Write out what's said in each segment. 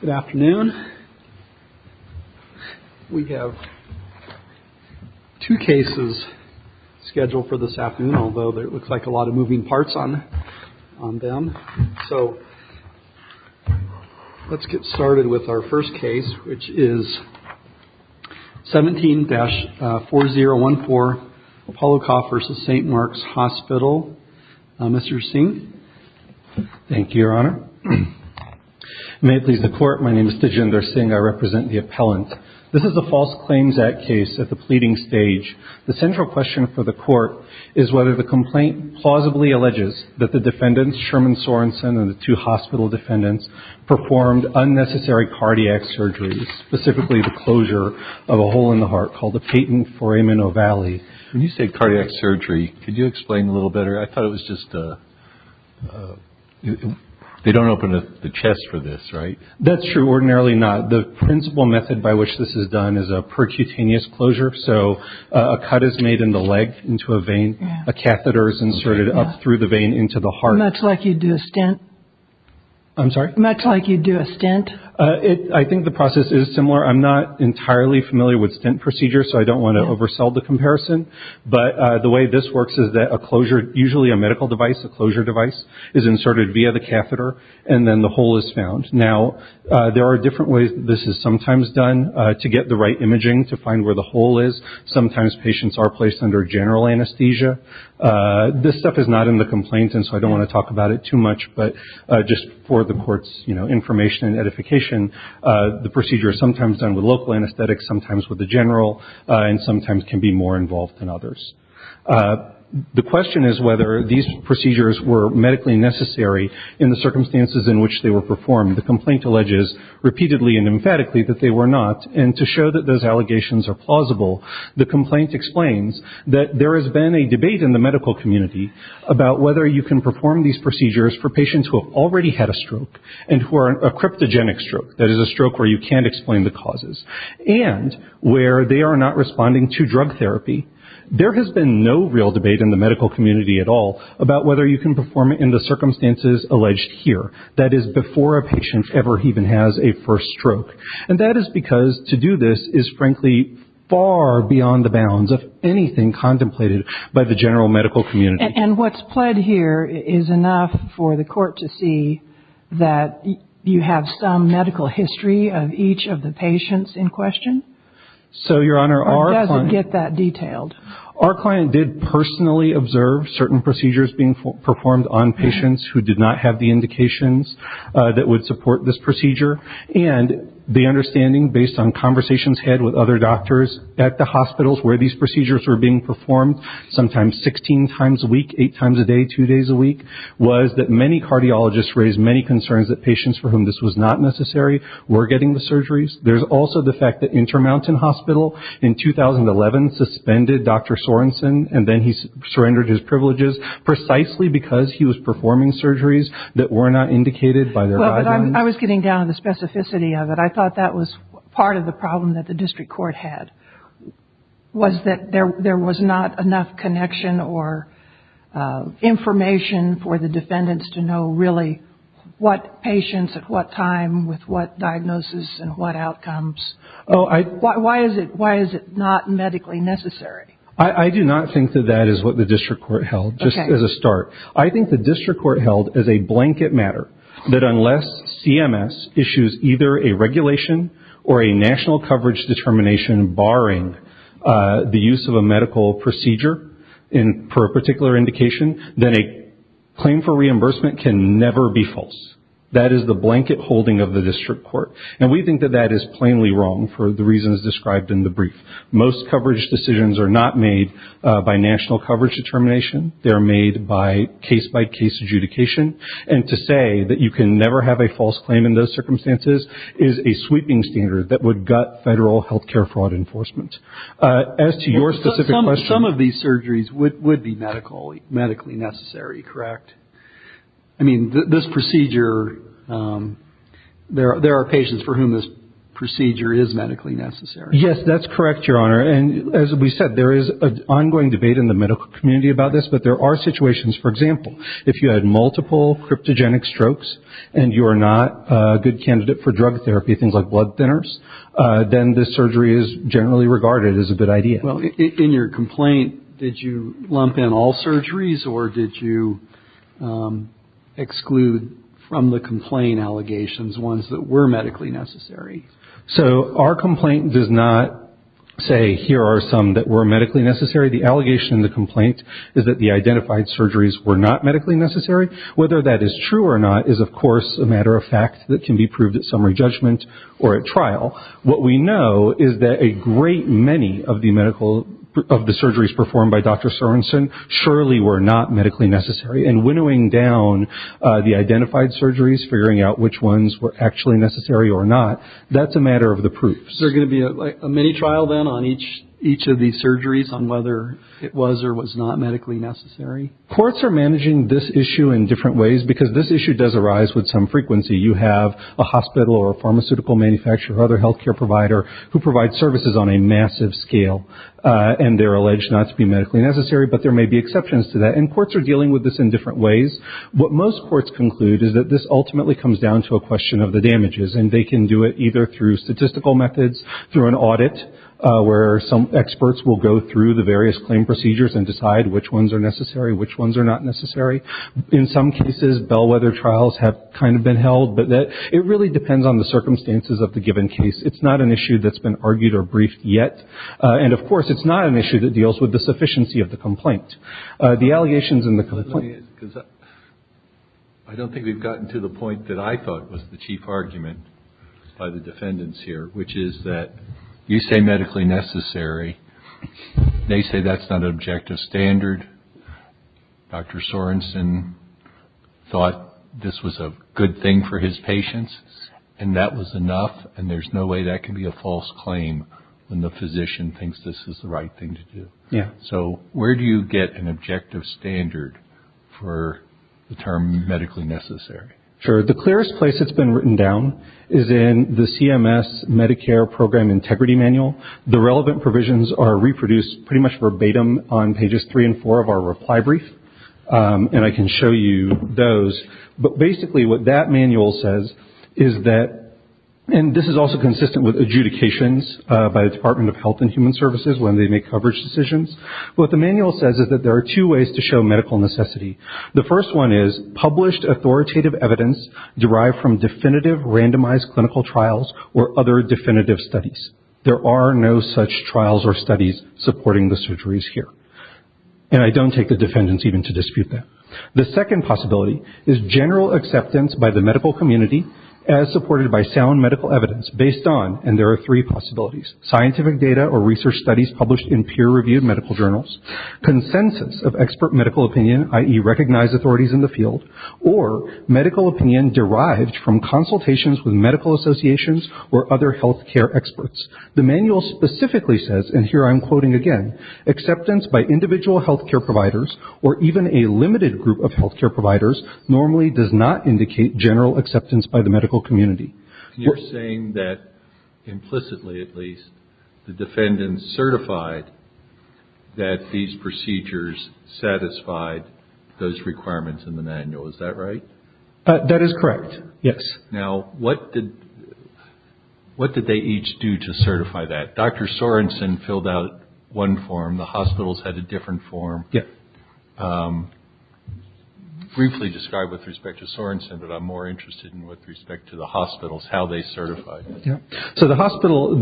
Good afternoon. We have two cases scheduled for this afternoon, although it looks like a lot of moving parts on them. So let's get started with our first case, which is 17-4014 Apollokoff v. St. Mark's Hospital, Mr. Singh. Thank you, Your Honor. May it please the Court, my name is Tejinder Singh. I represent the appellant. This is a false claims act case at the pleading stage. The central question for the Court is whether the complaint plausibly alleges that the defendants, Sherman Sorenson and the two hospital defendants, performed unnecessary cardiac surgeries, specifically the closure of a hole in the heart called the patent foramen ovale. When you say cardiac surgery, could you explain a little better? I thought it was just a, they don't open the chest for this, right? That's true, ordinarily not. The principle method by which this is done is a percutaneous closure. So a cut is made in the leg into a vein, a catheter is inserted up through the vein into the heart. Much like you'd do a stent? I'm sorry? Much like you'd do a stent? I think the process is similar. I'm not entirely familiar with stent procedures, so I don't want to oversell the comparison. But the way this works is that a closure, usually a medical device, a closure device, is inserted via the catheter and then the hole is found. Now, there are different ways this is sometimes done to get the right imaging to find where the hole is. Sometimes patients are placed under general anesthesia. This stuff is not in the complaint and so I don't want to talk about it too much, but just for the Court's information and edification, the procedure is sometimes done with local anesthetics, sometimes with the general, and sometimes can be more involved than others. The question is whether these procedures were medically necessary in the circumstances in which they were performed. The complaint alleges repeatedly and emphatically that they were not, and to show that those allegations are plausible, the complaint explains that there has been a debate in the medical community about whether you can perform these procedures for patients who have already had a stroke and who are a cryptogenic stroke, that is a stroke where you can't explain the causes, and where they are not responding to drug therapy. There has been no real debate in the medical community at all about whether you can perform it in the circumstances alleged here, that is, before a patient ever even has a first stroke. And that is because to do this is frankly far beyond the bounds of anything contemplated by the general medical community. And what's pled here is enough for the Court to see that you have some medical history of each of the patients in question? So Your Honor, our client... Or does it get that detailed? Our client did personally observe certain procedures being performed on patients who did not have the indications that would support this procedure, and the understanding based on conversations had with other doctors at the hospitals where these procedures were being performed, sometimes 16 times a week, 8 times a day, 2 days a week, was that many cardiologists raised many concerns that patients for whom this was not necessary were getting the surgeries. There's also the fact that Intermountain Hospital in 2011 suspended Dr. Sorenson, and then he surrendered his privileges precisely because he was performing surgeries that were not indicated by their guidelines. I was getting down to the specificity of it. I thought that was part of the problem that there was not enough connection or information for the defendants to know really what patients at what time with what diagnosis and what outcomes. Why is it not medically necessary? I do not think that that is what the District Court held, just as a start. I think the District Court held as a blanket matter that unless CMS issues either a regulation or a national coverage determination barring the use of a medical procedure for a particular indication, then a claim for reimbursement can never be false. That is the blanket holding of the District Court. And we think that that is plainly wrong for the reasons described in the brief. Most coverage decisions are not made by national coverage determination. They are made by case-by-case adjudication. And to say that you can never have a false claim in those circumstances is a sweeping standard that would gut federal health care fraud enforcement. As to your specific question... Some of these surgeries would be medically necessary, correct? I mean, this procedure, there are patients for whom this procedure is medically necessary. Yes, that is correct, Your Honor. And as we said, there is an ongoing debate in the medical community about this, but there are situations, for example, if you had multiple cryptogenic strokes and you are not a good candidate for drug therapy, things like blood thinners, then this surgery is generally regarded as a good idea. Well, in your complaint, did you lump in all surgeries or did you exclude from the complaint allegations ones that were medically necessary? So our complaint does not say, here are some that were medically necessary. The allegation in the complaint is that the identified surgeries were not medically necessary. Whether that is true or not is, of course, a matter of fact that can be proved at summary judgment or at trial. What we know is that a great many of the surgeries performed by Dr. Sorenson surely were not medically necessary. And winnowing down the identified surgeries, figuring out which ones were actually necessary or not, that's a matter of the proofs. Is there going to be a mini-trial then on each of these surgeries on whether it was or was not medically necessary? Courts are managing this issue in different ways because this issue does arise with some frequency. You have a hospital or a pharmaceutical manufacturer or other health care provider who provides services on a massive scale. And they are alleged not to be medically necessary, but there may be exceptions to that. And courts are dealing with this in different ways. What most courts conclude is that this ultimately comes down to a question of the damages. And they can do it either through statistical methods, through an audit where some experts will go through the various claim procedures and decide which ones are necessary, which ones are not necessary. In some cases, bellwether trials have kind of been held. But it really depends on the circumstances of the given case. It's not an issue that's been argued or briefed yet. And, of course, it's not an issue that deals with the sufficiency of the complaint. The allegations in the complaint – I don't think we've gotten to the point that I thought was the chief argument by the defendants here, which is that you say medically necessary. They say that's not an objective standard. Dr. Sorensen thought this was a good thing for his patients, and that was enough. And there's no way that can be a false claim when the physician thinks this is the right thing to do. So where do you get an objective standard for the term medically necessary? The clearest place it's been written down is in the CMS Medicare Program Integrity Manual. The relevant provisions are reproduced pretty much verbatim on pages three and four of our reply brief. And I can show you those. But basically what that manual says is that – and this is also consistent with adjudications by the Department of Health and Human Services when they make coverage decisions. What the manual says is that there are two ways to derive from definitive randomized clinical trials or other definitive studies. There are no such trials or studies supporting the surgeries here. And I don't take the defendants even to dispute that. The second possibility is general acceptance by the medical community as supported by sound medical evidence based on – and there are three possibilities – scientific data or research studies published in peer-reviewed medical journals, consensus of expert medical opinion, i.e., recognized authorities in the field, or medical opinion derived from consultations with medical associations or other health care experts. The manual specifically says – and here I'm quoting again – acceptance by individual health care providers or even a limited group of health care providers normally does not indicate general acceptance by the medical community. You're saying that implicitly at least the defendants certified that these procedures satisfied those requirements in the manual. Is that right? That is correct, yes. Now what did they each do to certify that? Dr. Sorenson filled out one form. The hospitals had a different form. Briefly describe with respect to Sorenson, but I'm more interested in with respect to the hospitals, how they certified it. So the hospital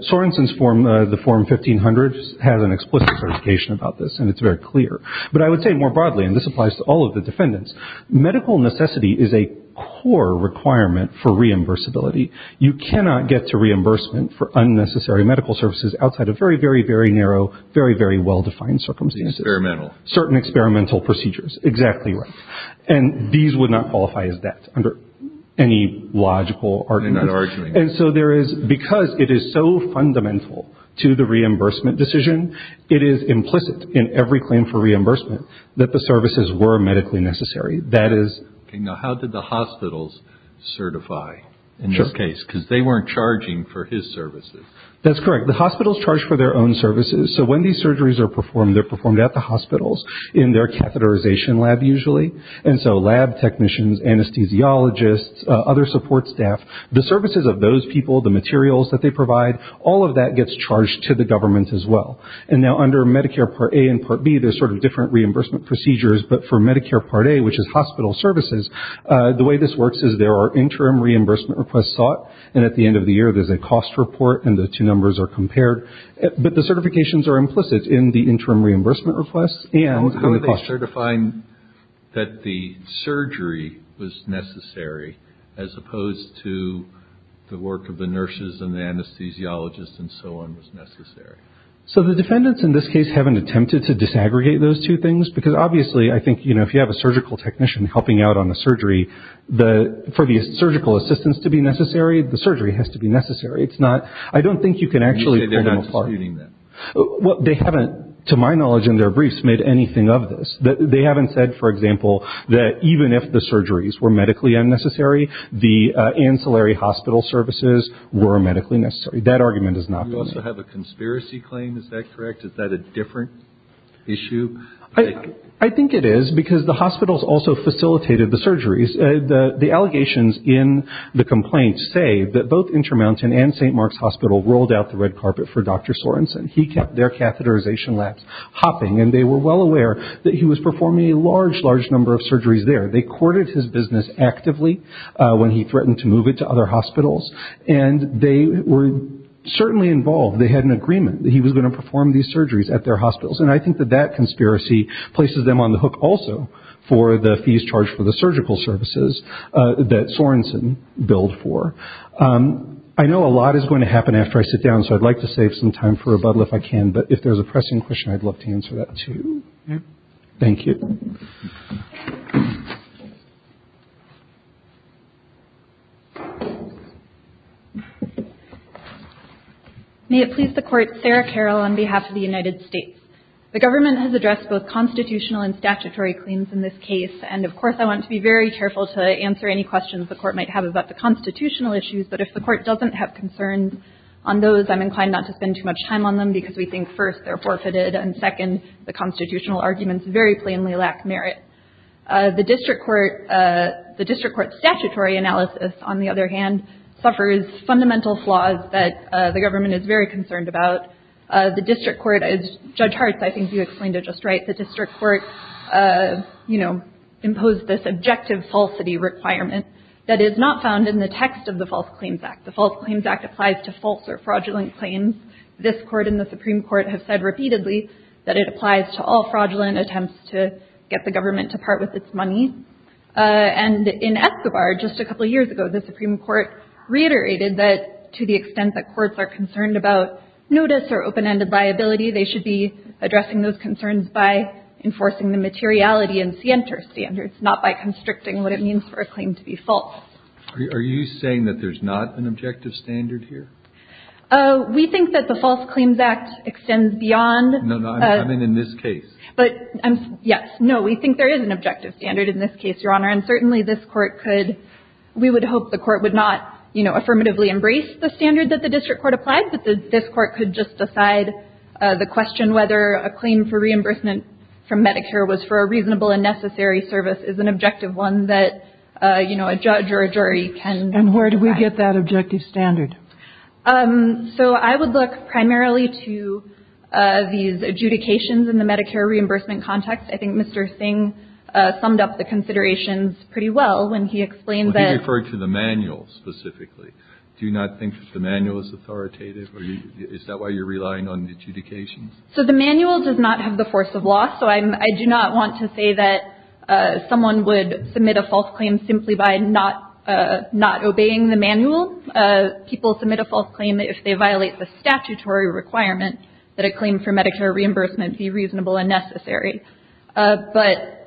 – Sorenson's form, the form 1500, has an explicit certification about this, and it's very clear. But I would say more broadly, and this applies to all of the defendants, medical necessity is a core requirement for reimbursability. You cannot get to reimbursement for unnecessary medical services outside of very, very, very narrow, very, very well-defined circumstances. Experimental. Certain experimental procedures. Exactly right. And these would not qualify as that under any logical argument. They're not arguing. And so there is – because it is so fundamental to the reimbursement decision, it is implicit in every claim for reimbursement that the services were medically necessary. That is – Okay, now how did the hospitals certify in this case? Because they weren't charging for his services. That's correct. The hospitals charge for their own services. So when these surgeries are performed, they're performed at the hospitals in their catheterization lab usually. And so lab technicians, anesthesiologists, other support staff, the services of those people, the materials that they provide, all of that gets charged to the government as well. And now under Medicare Part A and Part B, there's sort of different reimbursement procedures, but for Medicare Part A, which is hospital services, the way this works is there are interim reimbursement requests sought, and at the end of the year, there's a cost report, and the two numbers are compared. But the certifications are implicit in the interim reimbursement requests and the cost. So they certify that the surgery was necessary as opposed to the work of the nurses and the anesthesiologists and so on was necessary. So the defendants in this case haven't attempted to disaggregate those two things, because obviously I think, you know, if you have a surgical technician helping out on the surgery, for the surgical assistance to be necessary, the surgery has to be necessary. It's not – I don't think you can actually pull them apart. You say they're not disputing that. Well, they haven't, to my knowledge in their briefs, made anything of this. They haven't said, for example, that even if the surgeries were medically unnecessary, the ancillary hospital services were medically necessary. That argument is not going to happen. You also have a conspiracy claim. Is that correct? Is that a different issue? I think it is, because the hospitals also facilitated the surgeries. The allegations in the complaint say that both Intermountain and St. Mark's Hospital rolled out the red Sorensen. He kept their catheterization labs hopping, and they were well aware that he was performing a large, large number of surgeries there. They courted his business actively when he threatened to move it to other hospitals, and they were certainly involved. They had an agreement that he was going to perform these surgeries at their hospitals, and I think that that conspiracy places them on the hook also for the fees charged for the surgical services that Sorensen billed for. I know a lot is going to happen after I sit down, so I'd like to save some time for rebuttal if I can, but if there's a pressing question, I'd love to answer that, too. Thank you. May it please the Court, Sarah Carroll on behalf of the United States. The government has addressed both constitutional and statutory claims in this case, and of course I want to be very careful to answer any questions the Court might have about the constitutional issues, but if the Court doesn't have concerns on those, I'm inclined not to spend too much time on them because we think, first, they're forfeited, and second, the constitutional arguments very plainly lack merit. The district court statutory analysis, on the other hand, suffers fundamental flaws that the government is very concerned about. The district court, as Judge Hart, I think requirement that is not found in the text of the False Claims Act. The False Claims Act applies to false or fraudulent claims. This Court and the Supreme Court have said repeatedly that it applies to all fraudulent attempts to get the government to part with its money, and in Escobar, just a couple of years ago, the Supreme Court reiterated that to the extent that courts are concerned about notice or open-ended liability, they should be addressing those concerns by enforcing the materiality and scienter standards, not by constricting what it means for a claim to be false. Are you saying that there's not an objective standard here? We think that the False Claims Act extends beyond... No, no, I'm in this case. But, yes, no, we think there is an objective standard in this case, Your Honor, and certainly this Court could, we would hope the Court would not, you know, affirmatively embrace the standard that the district court applied, but this Court could just decide the question whether a claim for reimbursement from Medicare was for a reasonable and necessary service is an objective one that, you know, a judge or a jury can... And where do we get that objective standard? So I would look primarily to these adjudications in the Medicare reimbursement context. I think Mr. Singh summed up the considerations pretty well when he explained that... Well, he referred to the manual specifically. Do you not think that the manual is authoritative, or is that why you're relying on adjudications? So the manual does not have the force of law, so I do not want to say that someone would submit a false claim simply by not obeying the manual. People submit a false claim if they violate the statutory requirement that a claim for Medicare reimbursement be reasonable and necessary. But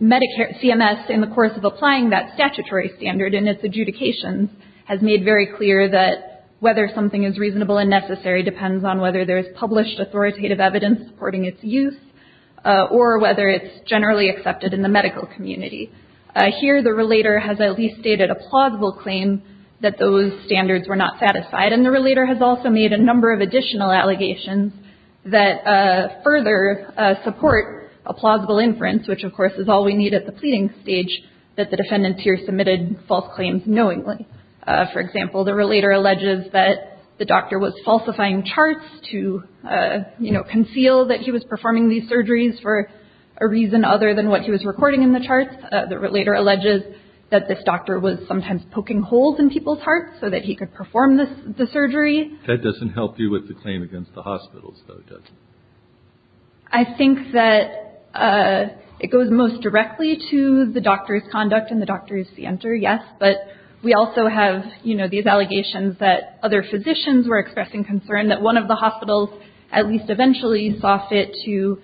Medicare, CMS, in the course of applying that statutory standard in its adjudications has made very clear that whether something is reasonable and necessary depends on whether there is published authoritative evidence supporting its use or whether it's generally accepted in the medical community. Here the relator has at least stated a plausible claim that those standards were not satisfied, and the relator has also made a number of additional allegations that further support a plausible inference, which of course is all we need at the pleading stage that the defendant here submitted false claims knowingly. For example, the relator alleges that the doctor was falsifying charts to, you know, conceal that he was performing these surgeries for a reason other than what he was recording in the charts. The relator alleges that this doctor was sometimes poking holes in people's hearts so that he could perform the surgery. That doesn't help you with the claim against the hospitals, though, does it? I think that it goes most directly to the doctor's conduct and the doctor's center, yes, but we also have, you know, these allegations that other physicians were expressing concern that one of the hospitals at least eventually saw fit to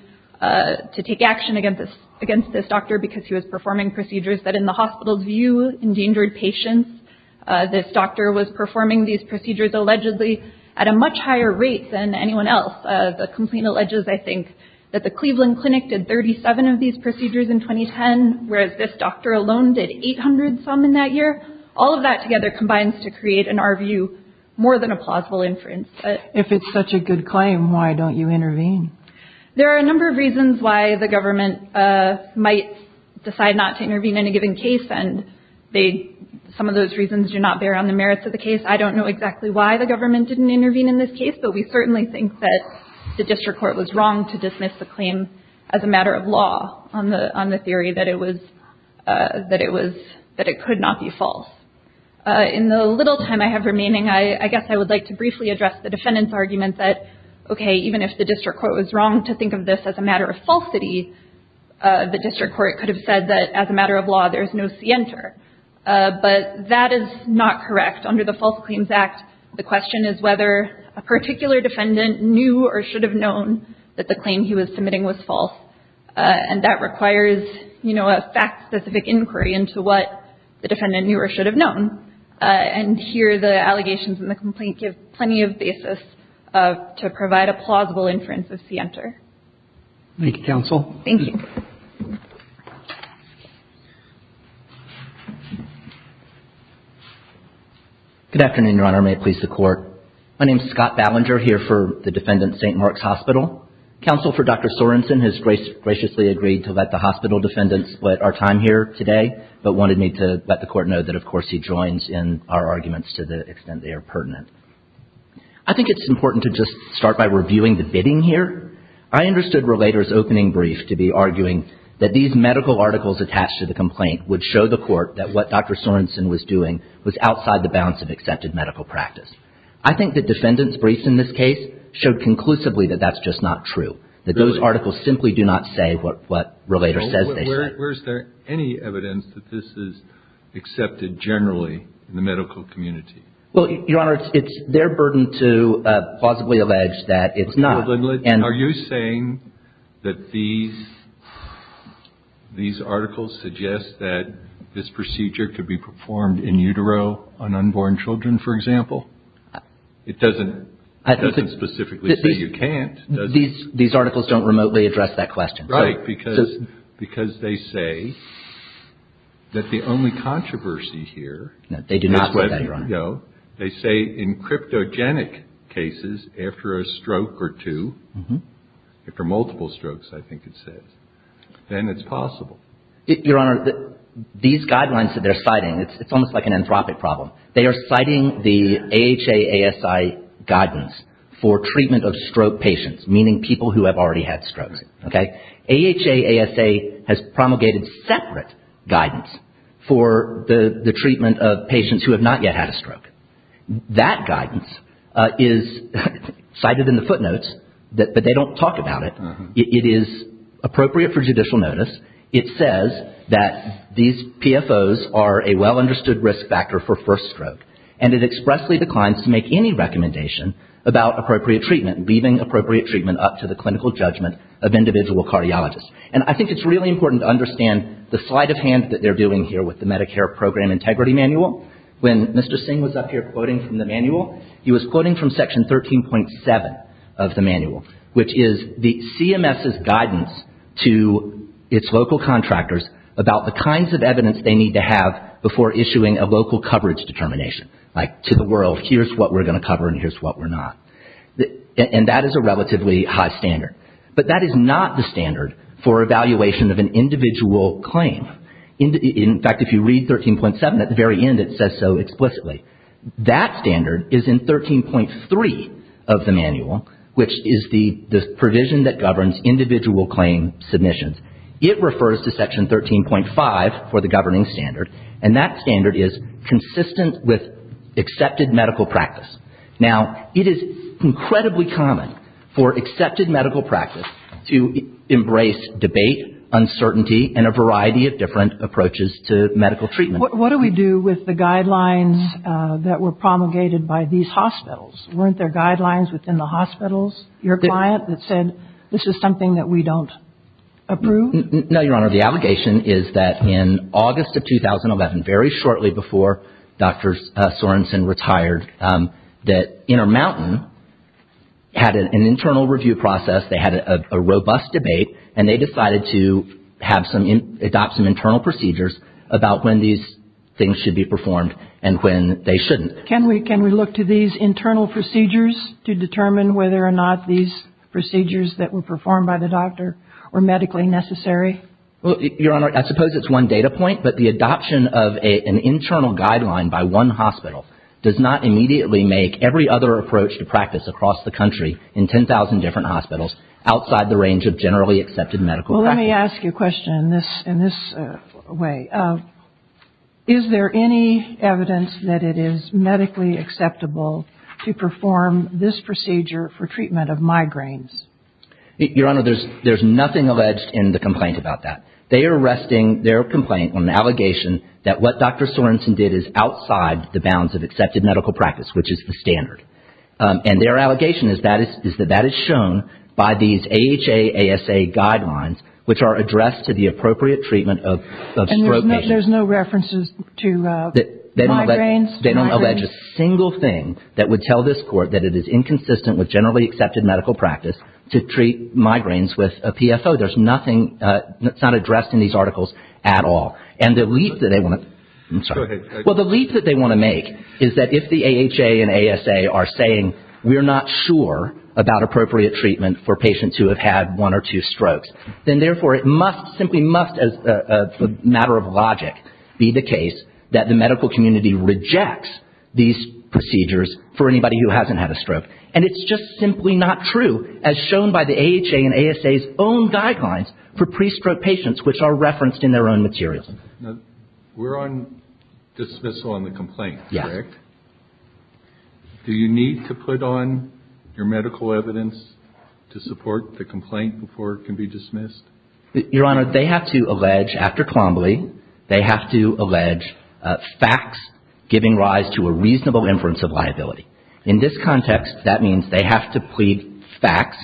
take action against this doctor because he was performing procedures that in the hospital's view endangered patients. This doctor was performing these procedures allegedly at a much higher rate than anyone else. The complaint alleges, I think, that the Cleveland Clinic did 37 of these procedures in 2010, whereas this doctor alone did 800 some in that year. All of that together combines to create, in our view, more than a plausible inference. If it's such a good claim, why don't you intervene? There are a number of reasons why the government might decide not to intervene in a given case, and some of those reasons do not bear on the merits of the case. I don't know exactly why the government didn't intervene in this case, but we certainly think that the district court was wrong to dismiss the claim as a matter of law on the theory that it was, that it could not be false. In the little time I have remaining, I guess I would like to briefly address the defendant's argument that, okay, even if the district court was wrong to think of this as a matter of falsity, the district court could have said that as a matter of law there is no scienter, but that is not correct under the False Claims Act. The question is whether a particular defendant knew or should have known that the claim he was submitting was false, and that requires, you know, a fact-specific inquiry into what the defendant knew or should have known. And here the allegations in the complaint give plenty of basis to provide a plausible inference of scienter. Thank you, counsel. Thank you. Good afternoon, Your Honor. May it please the Court. My name is Scott Ballinger, here for the defendant, St. Mark's Hospital. Counsel for Dr. Sorensen has graciously agreed to let the hospital defendant split our time here today, but wanted me to let the Court know that, of course, he joins in our arguments to the extent they are pertinent. I think it's important to just start by reviewing the bidding here. I understood Relator's opening brief to be arguing that these medical articles attached to the complaint would show the Court that what Dr. Sorensen was doing was outside the bounds of accepted medical practice. I think the defendant's briefs in this case showed conclusively that that's just not true, that those articles simply do not say what Relator says they should. Where is there any evidence that this is accepted generally in the medical community? Well, Your Honor, it's their burden to plausibly allege that it's not. Are you saying that these articles suggest that this procedure could be performed in utero on unborn children, for example? It doesn't specifically say you can't, does it? These articles don't remotely address that question. Right, because they say that the only controversy here is whether, though, they say in cryptogenic cases after a stroke or two, after multiple strokes, I think it says, then it's possible. Your Honor, these guidelines that they're citing, it's almost like an anthropic problem. They are citing the AHA-ASI guidance for treatment of stroke patients, meaning people who have already had strokes, okay? AHA-ASA has promulgated separate guidance for the treatment of patients who have not yet had a stroke. That guidance is cited in the footnotes, but they don't talk about it. It is appropriate for judicial notice. It says that these PFOs are a well-understood risk factor for first stroke, and it expressly declines to make any recommendation about appropriate treatment, leaving appropriate treatment up to the clinical judgment of individual cardiologists. And I think it's really important to understand the sleight of hand that they're doing here with the Medicare Program Integrity Manual. When Mr. Singh was up here quoting from the manual, he was quoting from Section 13.7 of the manual, which is the CMS's guidance to its local contractors about the kinds of evidence they need to have before issuing a local coverage determination, like, to the world, here's what we're going to cover and here's what we're not. And that is a relatively high standard. But that is not the standard for evaluation of an individual claim. In fact, if you read 13.7, at the very end it says so explicitly. That standard is in 13.3 of the manual, which is the provision that governs individual claim submissions. It refers to Section 13.5 for the governing standard, and that standard is consistent with accepted medical practice. Now it is incredibly common for accepted medical practice to embrace debate, uncertainty, and a variety of different approaches to medical treatment. What do we do with the guidelines that were promulgated by these hospitals? Weren't there guidelines within the hospitals, your client, that said this is something that we don't approve? No, Your Honor. The allegation is that in August of 2011, very shortly before Dr. Sorensen retired, that Intermountain had an internal review process, they had a robust debate, and they decided to adopt some internal procedures about when these things should be performed and when they shouldn't. Can we look to these internal procedures to determine whether or not these procedures that were performed by the doctor were medically necessary? Well, Your Honor, I suppose it's one data point, but the adoption of an internal guideline by one hospital does not immediately make every other approach to practice across the Well, let me ask you a question in this way. Is there any evidence that it is medically acceptable to perform this procedure for treatment of migraines? Your Honor, there's nothing alleged in the complaint about that. They are resting their complaint on the allegation that what Dr. Sorensen did is outside the bounds of accepted medical practice, which is the standard. And their allegation is that that is shown by these AHA, ASA guidelines, which are addressed to the appropriate treatment of stroke patients. There's no references to migraines? They don't allege a single thing that would tell this Court that it is inconsistent with generally accepted medical practice to treat migraines with a PFO. There's nothing. It's not addressed in these articles at all. And the leap that they want to make is that if the AHA and ASA are saying we're not sure about appropriate treatment for patients who have had one or two strokes, then therefore it must, simply must as a matter of logic, be the case that the medical community rejects these procedures for anybody who hasn't had a stroke. And it's just simply not true, as shown by the AHA and ASA's own guidelines for pre-stroke patients, which are referenced in their own materials. Yes. Do you need to put on your medical evidence to support the complaint before it can be dismissed? Your Honor, they have to allege, after Colombole, they have to allege facts giving rise to a reasonable inference of liability. In this context, that means they have to plead facts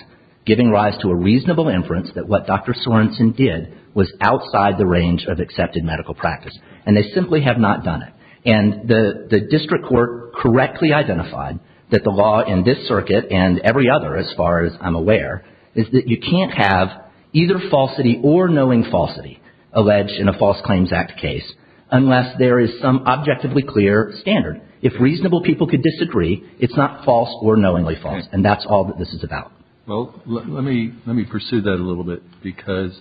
giving rise to a reasonable inference that what Dr. Sorensen did was outside the range of accepted medical practice. And they simply have not done it. And the district court correctly identified that the law in this circuit and every other, as far as I'm aware, is that you can't have either falsity or knowing falsity alleged in a False Claims Act case unless there is some objectively clear standard. If reasonable people could disagree, it's not false or knowingly false. And that's all that this is about. Well, let me pursue that a little bit. Because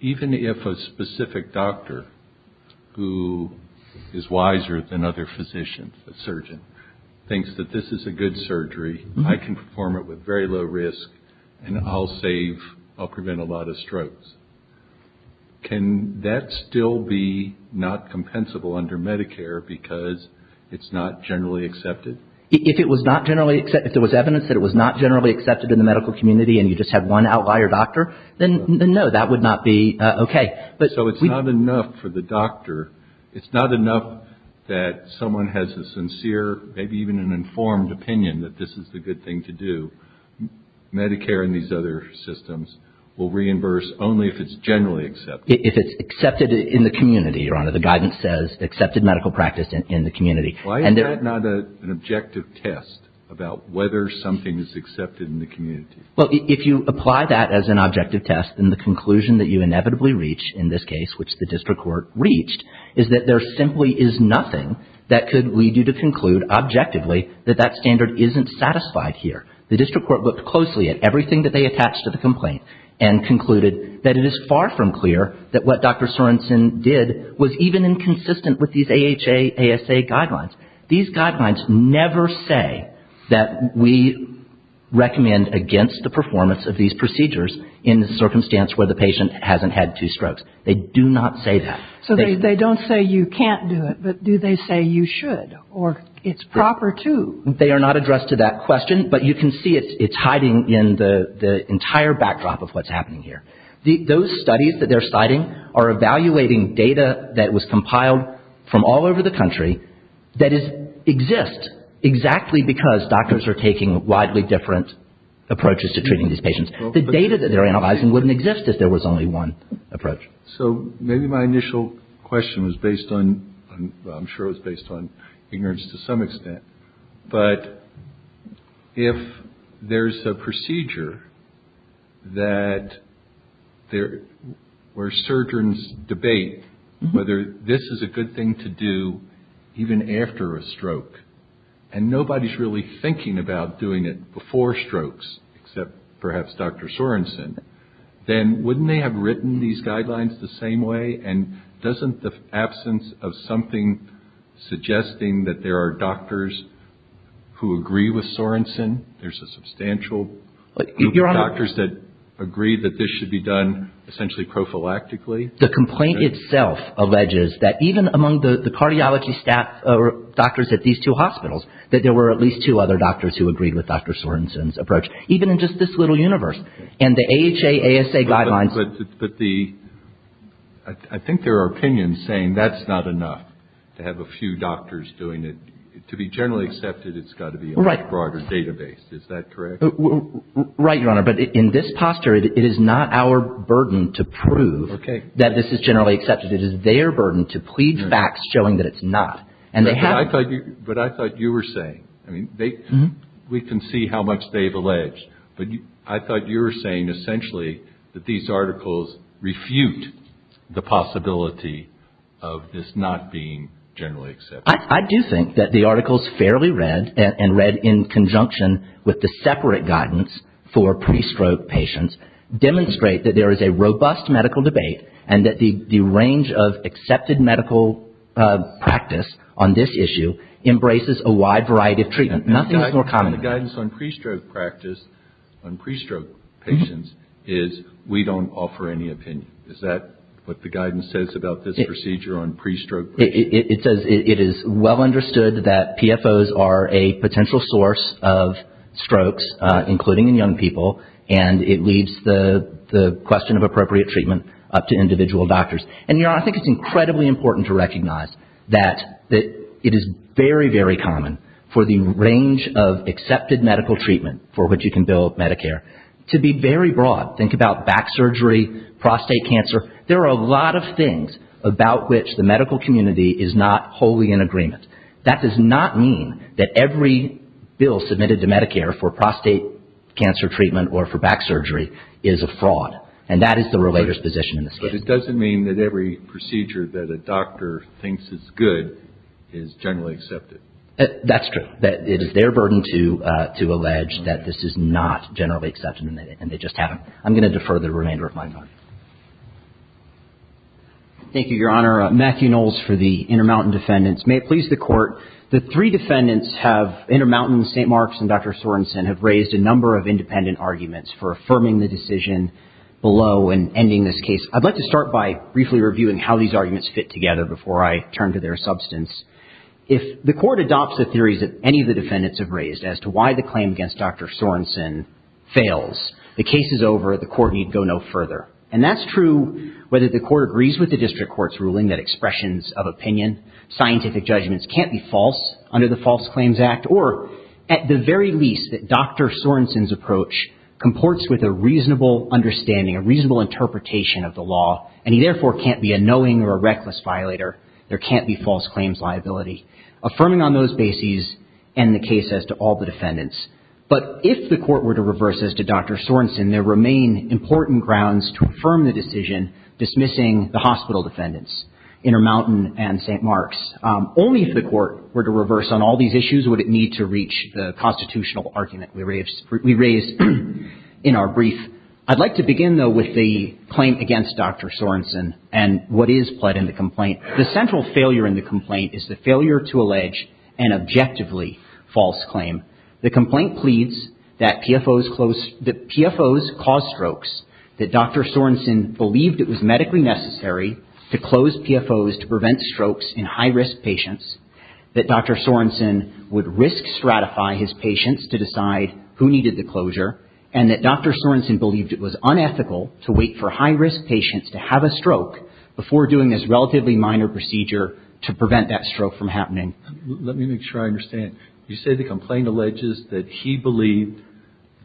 even if a specific doctor who is wiser than other physicians, a surgeon, thinks that this is a good surgery, I can perform it with very low risk, and I'll save, I'll prevent a lot of strokes, can that still be not compensable under Medicare because it's not generally accepted? If it was not generally accepted, if there was evidence that it was not generally accepted in the medical community and you just had one outlier doctor, then no, that would not be okay. So it's not enough for the doctor, it's not enough that someone has a sincere, maybe even an informed opinion that this is the good thing to do. Medicare and these other systems will reimburse only if it's generally accepted. If it's accepted in the community, Your Honor, the guidance says accepted medical practice in the community. Why is that not an objective test about whether something is accepted in the community? Well, if you apply that as an objective test, then the conclusion that you inevitably reach in this case, which the district court reached, is that there simply is nothing that could lead you to conclude objectively that that standard isn't satisfied here. The district court looked closely at everything that they attached to the complaint and concluded that it is far from clear that what Dr. Sorensen did was even inconsistent with these AHA, ASA guidelines. These guidelines never say that we recommend against the performance of these procedures in the circumstance where the patient hasn't had two strokes. They do not say that. So they don't say you can't do it, but do they say you should or it's proper to? They are not addressed to that question, but you can see it's hiding in the entire backdrop of what's happening here. Those studies that they're citing are evaluating data that was compiled from all over the country that exists exactly because doctors are taking widely different approaches to treating these patients. The data that they're analyzing wouldn't exist if there was only one approach. So maybe my initial question was based on, I'm sure it was based on ignorance to some extent, where surgeons debate whether this is a good thing to do even after a stroke and nobody's really thinking about doing it before strokes except perhaps Dr. Sorensen. Then wouldn't they have written these guidelines the same way and doesn't the absence of something suggesting that there are doctors who agree with Sorensen, there's a substantial group of doctors that agree that this should be done essentially prophylactically? The complaint itself alleges that even among the cardiology staff or doctors at these two hospitals that there were at least two other doctors who agreed with Dr. Sorensen's approach, even in just this little universe. And the AHA, ASA guidelines. But the, I think there are opinions saying that's not enough to have a few doctors doing it. To be generally accepted, it's got to be a much broader database. Is that correct? Right, Your Honor. But in this posture, it is not our burden to prove that this is generally accepted. It is their burden to plead facts showing that it's not. And they have. But I thought you were saying, I mean, we can see how much they've alleged, but I thought you were saying essentially that these articles refute the possibility of this not being generally accepted. I do think that the articles fairly read and read in conjunction with the separate guidance for pre-stroke patients demonstrate that there is a robust medical debate and that the range of accepted medical practice on this issue embraces a wide variety of treatment. Nothing is more common. And the guidance on pre-stroke practice, on pre-stroke patients, is we don't offer any opinion. Is that what the guidance says about this procedure on pre-stroke patients? It says it is well understood that PFOs are a potential source of strokes, including in young people, and it leaves the question of appropriate treatment up to individual doctors. And Your Honor, I think it's incredibly important to recognize that it is very, very common for the range of accepted medical treatment for which you can bill Medicare to be very broad. Think about back surgery, prostate cancer. There are a lot of things about which the medical community is not wholly in agreement. That does not mean that every bill submitted to Medicare for prostate cancer treatment or for back surgery is a fraud. And that is the relator's position in this case. But it doesn't mean that every procedure that a doctor thinks is good is generally accepted. That's true. It is their burden to allege that this is not generally accepted and they just haven't. I'm going to defer the remainder of my time. Thank you, Your Honor. Matthew Knowles for the Intermountain Defendants. May it please the Court. The three defendants have, Intermountain, St. Mark's, and Dr. Sorensen, have raised a number of independent arguments for affirming the decision below and ending this case. I'd like to start by briefly reviewing how these arguments fit together before I turn to their substance. If the Court adopts the theories that any of the defendants have raised as to why the the Court need go no further. And that's true whether the Court agrees with the district court's ruling that expressions of opinion, scientific judgments can't be false under the False Claims Act, or at the very least that Dr. Sorensen's approach comports with a reasonable understanding, a reasonable interpretation of the law, and he therefore can't be a knowing or a reckless violator. There can't be false claims liability. Affirming on those bases end the case as to all the defendants. But if the Court were to reverse as to Dr. Sorensen, there remain important grounds to affirm the decision dismissing the hospital defendants, Intermountain and St. Mark's. Only if the Court were to reverse on all these issues would it need to reach the constitutional argument we raised in our brief. I'd like to begin, though, with the claim against Dr. Sorensen and what is pled in the complaint. The central failure in the complaint is the failure to allege an objectively false claim. The complaint pleads that PFOs caused strokes, that Dr. Sorensen believed it was medically necessary to close PFOs to prevent strokes in high-risk patients, that Dr. Sorensen would risk stratify his patients to decide who needed the closure, and that Dr. Sorensen believed it was unethical to wait for high-risk patients to have a stroke before doing this relatively minor procedure to prevent that stroke from happening. Let me make sure I understand. You say the complaint alleges that he believed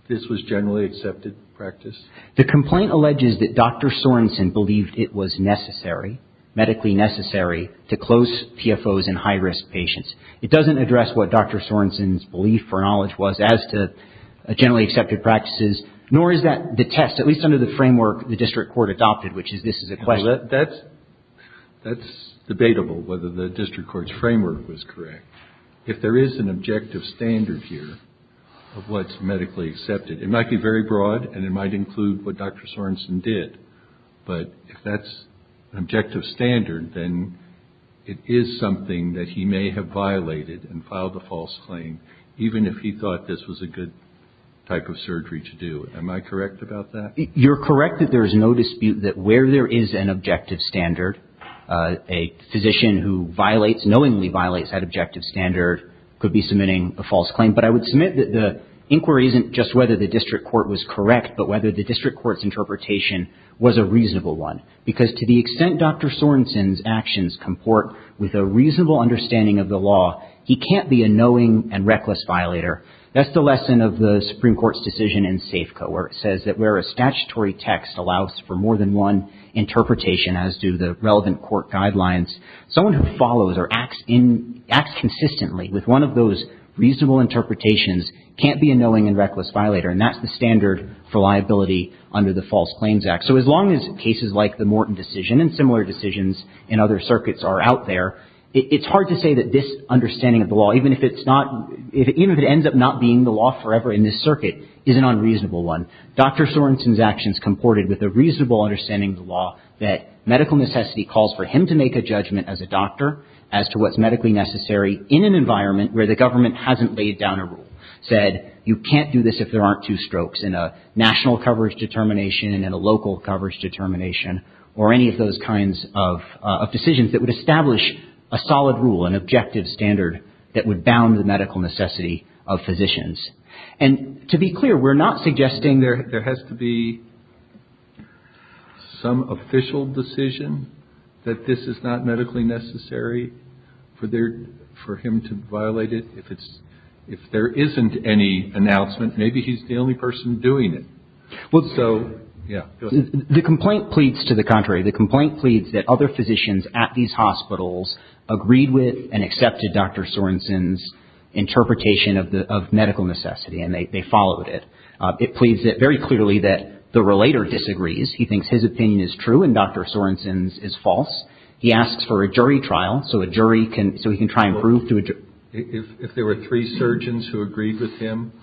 this was generally accepted practice? The complaint alleges that Dr. Sorensen believed it was necessary, medically necessary, to close PFOs in high-risk patients. It doesn't address what Dr. Sorensen's belief or knowledge was as to generally accepted practices, nor is that the test, at least under the framework the district court adopted, which is this is a question. That's debatable, whether the district court's framework was correct. If there is an objective standard here of what's medically accepted, it might be very broad and it might include what Dr. Sorensen did, but if that's an objective standard, then it is something that he may have violated and filed a false claim, even if he thought this was a good type of surgery to do. Am I correct about that? You're correct that there is no dispute that where there is an objective standard, a objective standard could be submitting a false claim. But I would submit that the inquiry isn't just whether the district court was correct, but whether the district court's interpretation was a reasonable one, because to the extent Dr. Sorensen's actions comport with a reasonable understanding of the law, he can't be a knowing and reckless violator. That's the lesson of the Supreme Court's decision in SAFCO, where it says that where a statutory text allows for more than one interpretation, as do the relevant court guidelines, someone who follows or acts consistently with one of those reasonable interpretations can't be a knowing and reckless violator. And that's the standard for liability under the False Claims Act. So as long as cases like the Morton decision and similar decisions in other circuits are out there, it's hard to say that this understanding of the law, even if it ends up not being the law forever in this circuit, is an unreasonable one. Dr. Sorensen's actions comported with a reasonable understanding of the law that medical necessity calls for him to make a judgment as a doctor as to what's medically necessary in an environment where the government hasn't laid down a rule, said you can't do this if there aren't two strokes in a national coverage determination and a local coverage determination or any of those kinds of decisions that would establish a solid rule, an objective standard that would bound the medical necessity of physicians. And to be clear, we're not suggesting there has to be some official decision that this is not medically necessary for there for him to violate it. If it's if there isn't any announcement, maybe he's the only person doing it. Well, so, yeah, the complaint pleads to the contrary. The complaint pleads that other physicians at these hospitals agreed with and accepted Dr. Sorensen's interpretation of the medical necessity and they followed it. It pleads that very clearly that the relator disagrees. He thinks his opinion is true and Dr. Sorensen's is false. He asks for a jury trial. So a jury can so he can try and prove to if there were three surgeons who agreed with him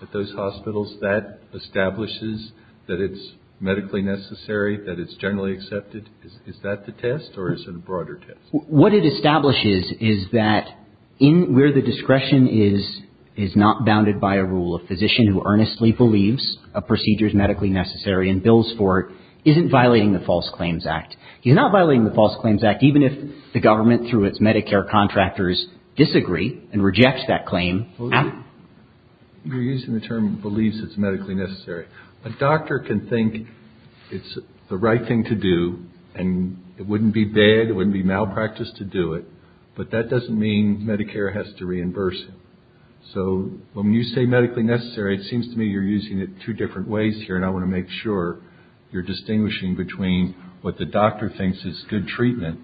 at those hospitals that establishes that it's medically necessary, that it's generally accepted. Is that the test or is it a broader test? What it establishes is that in where the discretion is, is not bounded by a rule of law. So Dr. Sorensen's report isn't violating the False Claims Act. He's not violating the False Claims Act, even if the government, through its Medicare contractors, disagree and reject that claim. You're using the term believes it's medically necessary. A doctor can think it's the right thing to do and it wouldn't be bad. It wouldn't be malpractice to do it. But that doesn't mean Medicare has to reimburse. So when you say medically necessary, it seems to me you're using it two different ways here. And I want to make sure you're distinguishing between what the doctor thinks is good treatment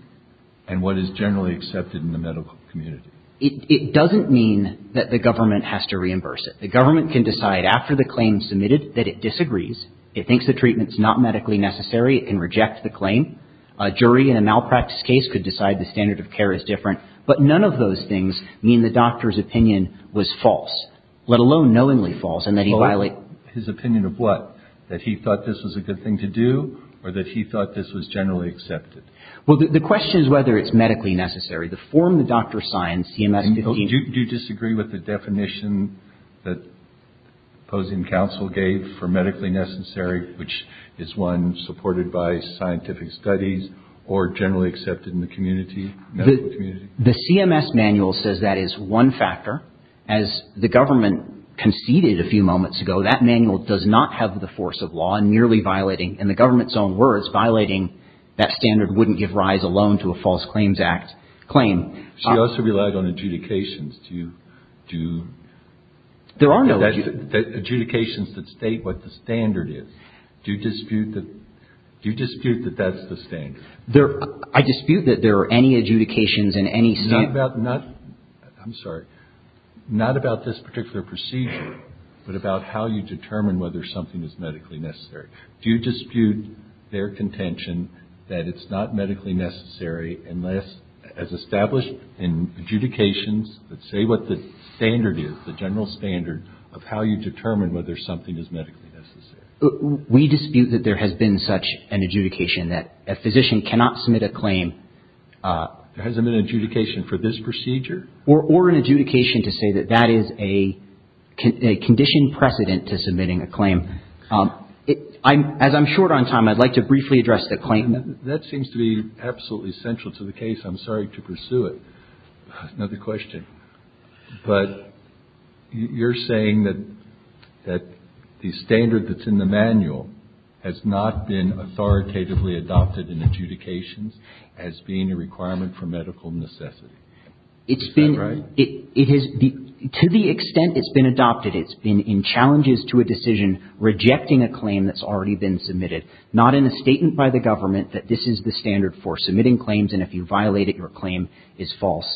and what is generally accepted in the medical community. It doesn't mean that the government has to reimburse it. The government can decide after the claim submitted that it disagrees. It thinks the treatment is not medically necessary. It can reject the claim. A jury in a malpractice case could decide the standard of care is different. But none of those things mean the doctor's opinion was false, let alone knowingly false, and that he violated his opinion of what? That he thought this was a good thing to do or that he thought this was generally accepted. Well, the question is whether it's medically necessary to form the doctor science. Do you disagree with the definition that opposing counsel gave for medically necessary, which is one supported by scientific studies or generally accepted in the community? The CMS manual says that is one factor as the government conceded a few years ago that the standard of care is not medically necessary to form the doctor's The standard of care is not medically necessary to form the doctor's opinion. It's not a force of law and merely violating, in the government's own words, violating that standard wouldn't give rise alone to a False Claims Act claim. She also relied on adjudications. Do you do? There are no adjudications that state what the standard is. Do you dispute that? Do you dispute that that's the standard? There I dispute that there are any adjudications in any state about not. I'm sorry. Not about this particular procedure, but about how you determine whether something is medically necessary. Do you dispute their contention that it's not medically necessary unless as established in adjudications that say what the standard is, the general standard of how you determine whether something is medically necessary. We dispute that there has been such an adjudication that a physician cannot submit a claim. There hasn't been an adjudication for this procedure. Or an adjudication to say that that is a condition precedent to submitting a claim. I'm as I'm short on time, I'd like to briefly address the claim. That seems to be absolutely essential to the case. I'm sorry to pursue it. Another question. But you're saying that that the standard that's in the manual has not been authoritatively adopted in adjudications as being a requirement for medical necessity. It's been right. It is to the extent it's been adopted. It's been in challenges to a decision rejecting a claim that's already been submitted. Not in a statement by the government that this is the standard for submitting claims. And if you violate it, your claim is false.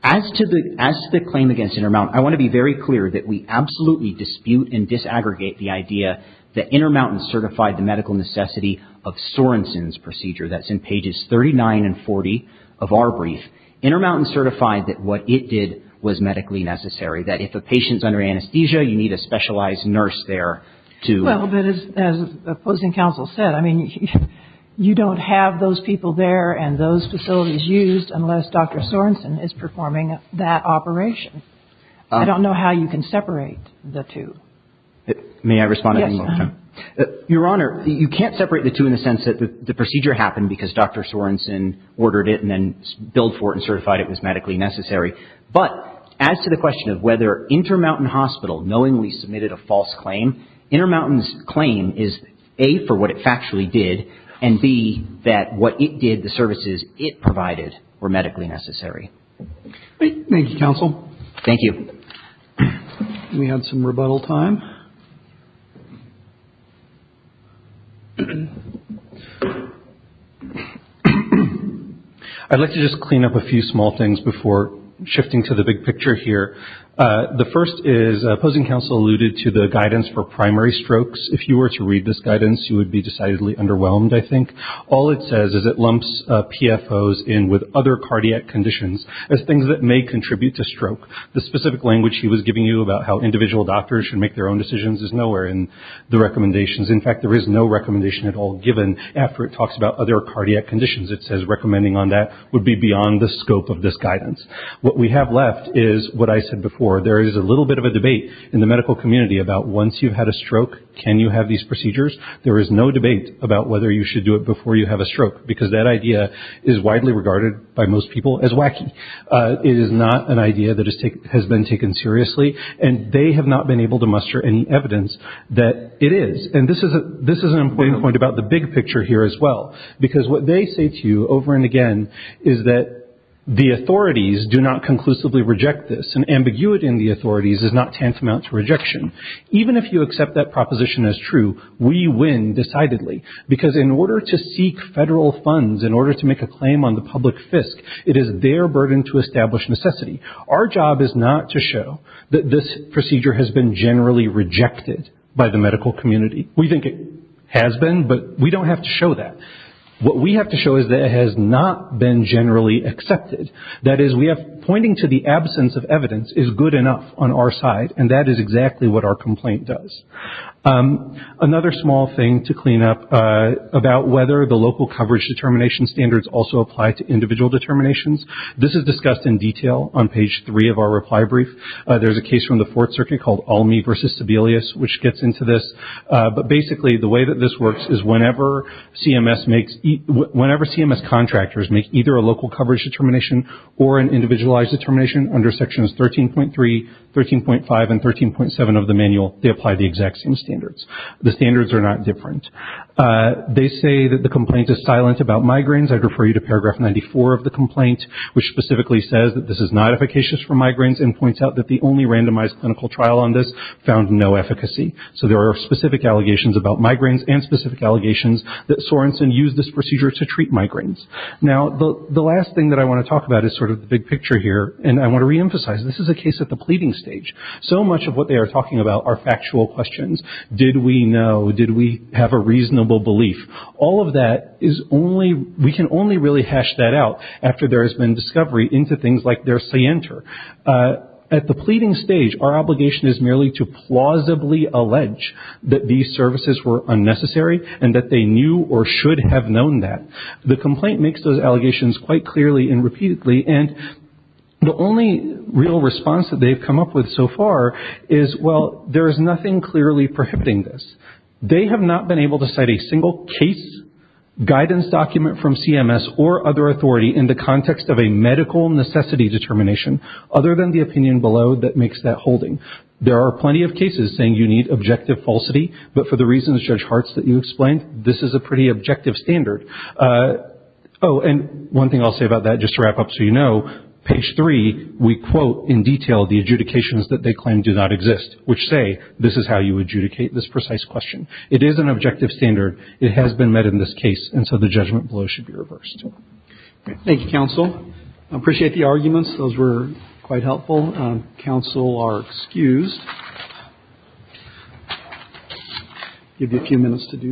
As to the as the claim against Intermountain, I want to be very clear that we absolutely dispute and disaggregate the idea that Intermountain certified the medical necessity of Sorensen's procedure. That's in pages 39 and 40 of our brief. Intermountain certified that what it did was medically necessary. That if a patient's under anesthesia, you need a specialized nurse there to. Well, but as opposing counsel said, I mean, you don't have those people there and those facilities used unless Dr. Sorensen is performing that operation. I don't know how you can separate the two. May I respond? Your Honor, you can't separate the two in the sense that the procedure happened because Dr. Sorensen ordered it and then billed for it and certified it was medically necessary. But as to the question of whether Intermountain Hospital knowingly submitted a false claim, Intermountain's claim is a for what it factually did and be that what it did, the It provided were medically necessary. Thank you, counsel. Thank you. We had some rebuttal time. I'd like to just clean up a few small things before shifting to the big picture here. The first is opposing counsel alluded to the guidance for primary strokes. If you were to read this guidance, you would be decidedly underwhelmed. I think all it says is it lumps PFOs in with other cardiac conditions as things that may contribute to stroke. The specific language he was giving you about how individual doctors should make their own decisions is nowhere in the recommendations. In fact, there is no recommendation at all, given after it talks about other cardiac conditions, it says recommending on that would be beyond the scope of this guidance. What we have left is what I said before. There is a little bit of a debate in the medical community about once you've had a stroke, can you have these procedures? There is no debate about whether you should do it before you have a stroke, because that idea is widely regarded by most people as wacky. It is not an idea that has been taken seriously, and they have not been able to muster any evidence that it is. And this is this is an important point about the big picture here as well, because what they say to you over and again is that the authorities do not conclusively reject this and ambiguity in the authorities is not tantamount to rejection. Even if you accept that proposition as true, we win decidedly because in order to seek federal funds, in order to make a claim on the public fisc, it is their burden to establish necessity. Our job is not to show that this procedure has been generally rejected by the medical community. We think it has been, but we don't have to show that. What we have to show is that it has not been generally accepted. That is, we have pointing to the absence of evidence is good enough on our side. And that is exactly what our complaint does. Another small thing to clean up about whether the local coverage determination standards also apply to individual determinations. This is discussed in detail on page three of our reply brief. There's a case from the Fourth Circuit called Almy versus Sebelius, which gets into this. But basically, the way that this works is whenever CMS makes whenever CMS contractors make either a local coverage determination or an individualized determination under sections 13.3, 13.5 and 13.7 of the manual, they apply the exact same standards. The standards are not different. They say that the complaint is silent about migraines. I'd refer you to paragraph 94 of the complaint, which specifically says that this is not efficacious for migraines and points out that the only randomized clinical trial on this found no efficacy. So there are specific allegations about migraines and specific allegations that Sorenson used this procedure to treat migraines. Now, the last thing that I want to talk about is sort of the big picture here, and I want to reemphasize this is a case at the pleading stage. So much of what they are talking about are factual questions. Did we know? Did we have a reasonable belief? All of that is only we can only really hash that out after there has been discovery into things like their scienter. At the pleading stage, our obligation is merely to plausibly allege that these services were unnecessary and that they knew or should have known that. The complaint makes those allegations quite clearly and repeatedly. And the only real response that they've come up with so far is, well, there is nothing clearly prohibiting this. They have not been able to cite a single case guidance document from CMS or other authority in the context of a medical necessity determination other than the opinion below that makes that holding. There are plenty of cases saying you need objective falsity. But for the reasons, Judge Hartz, that you explained, this is a pretty objective standard. Oh, and one thing I'll say about that, just to wrap up so you know, page three, we quote in detail the adjudications that they claim do not exist, which say this is how you adjudicate this precise question. It is an objective standard. It has been met in this case. And so the judgment below should be reversed. Thank you, counsel. I appreciate the arguments. Those were quite helpful. Counsel are excused. Give you a few minutes to do that.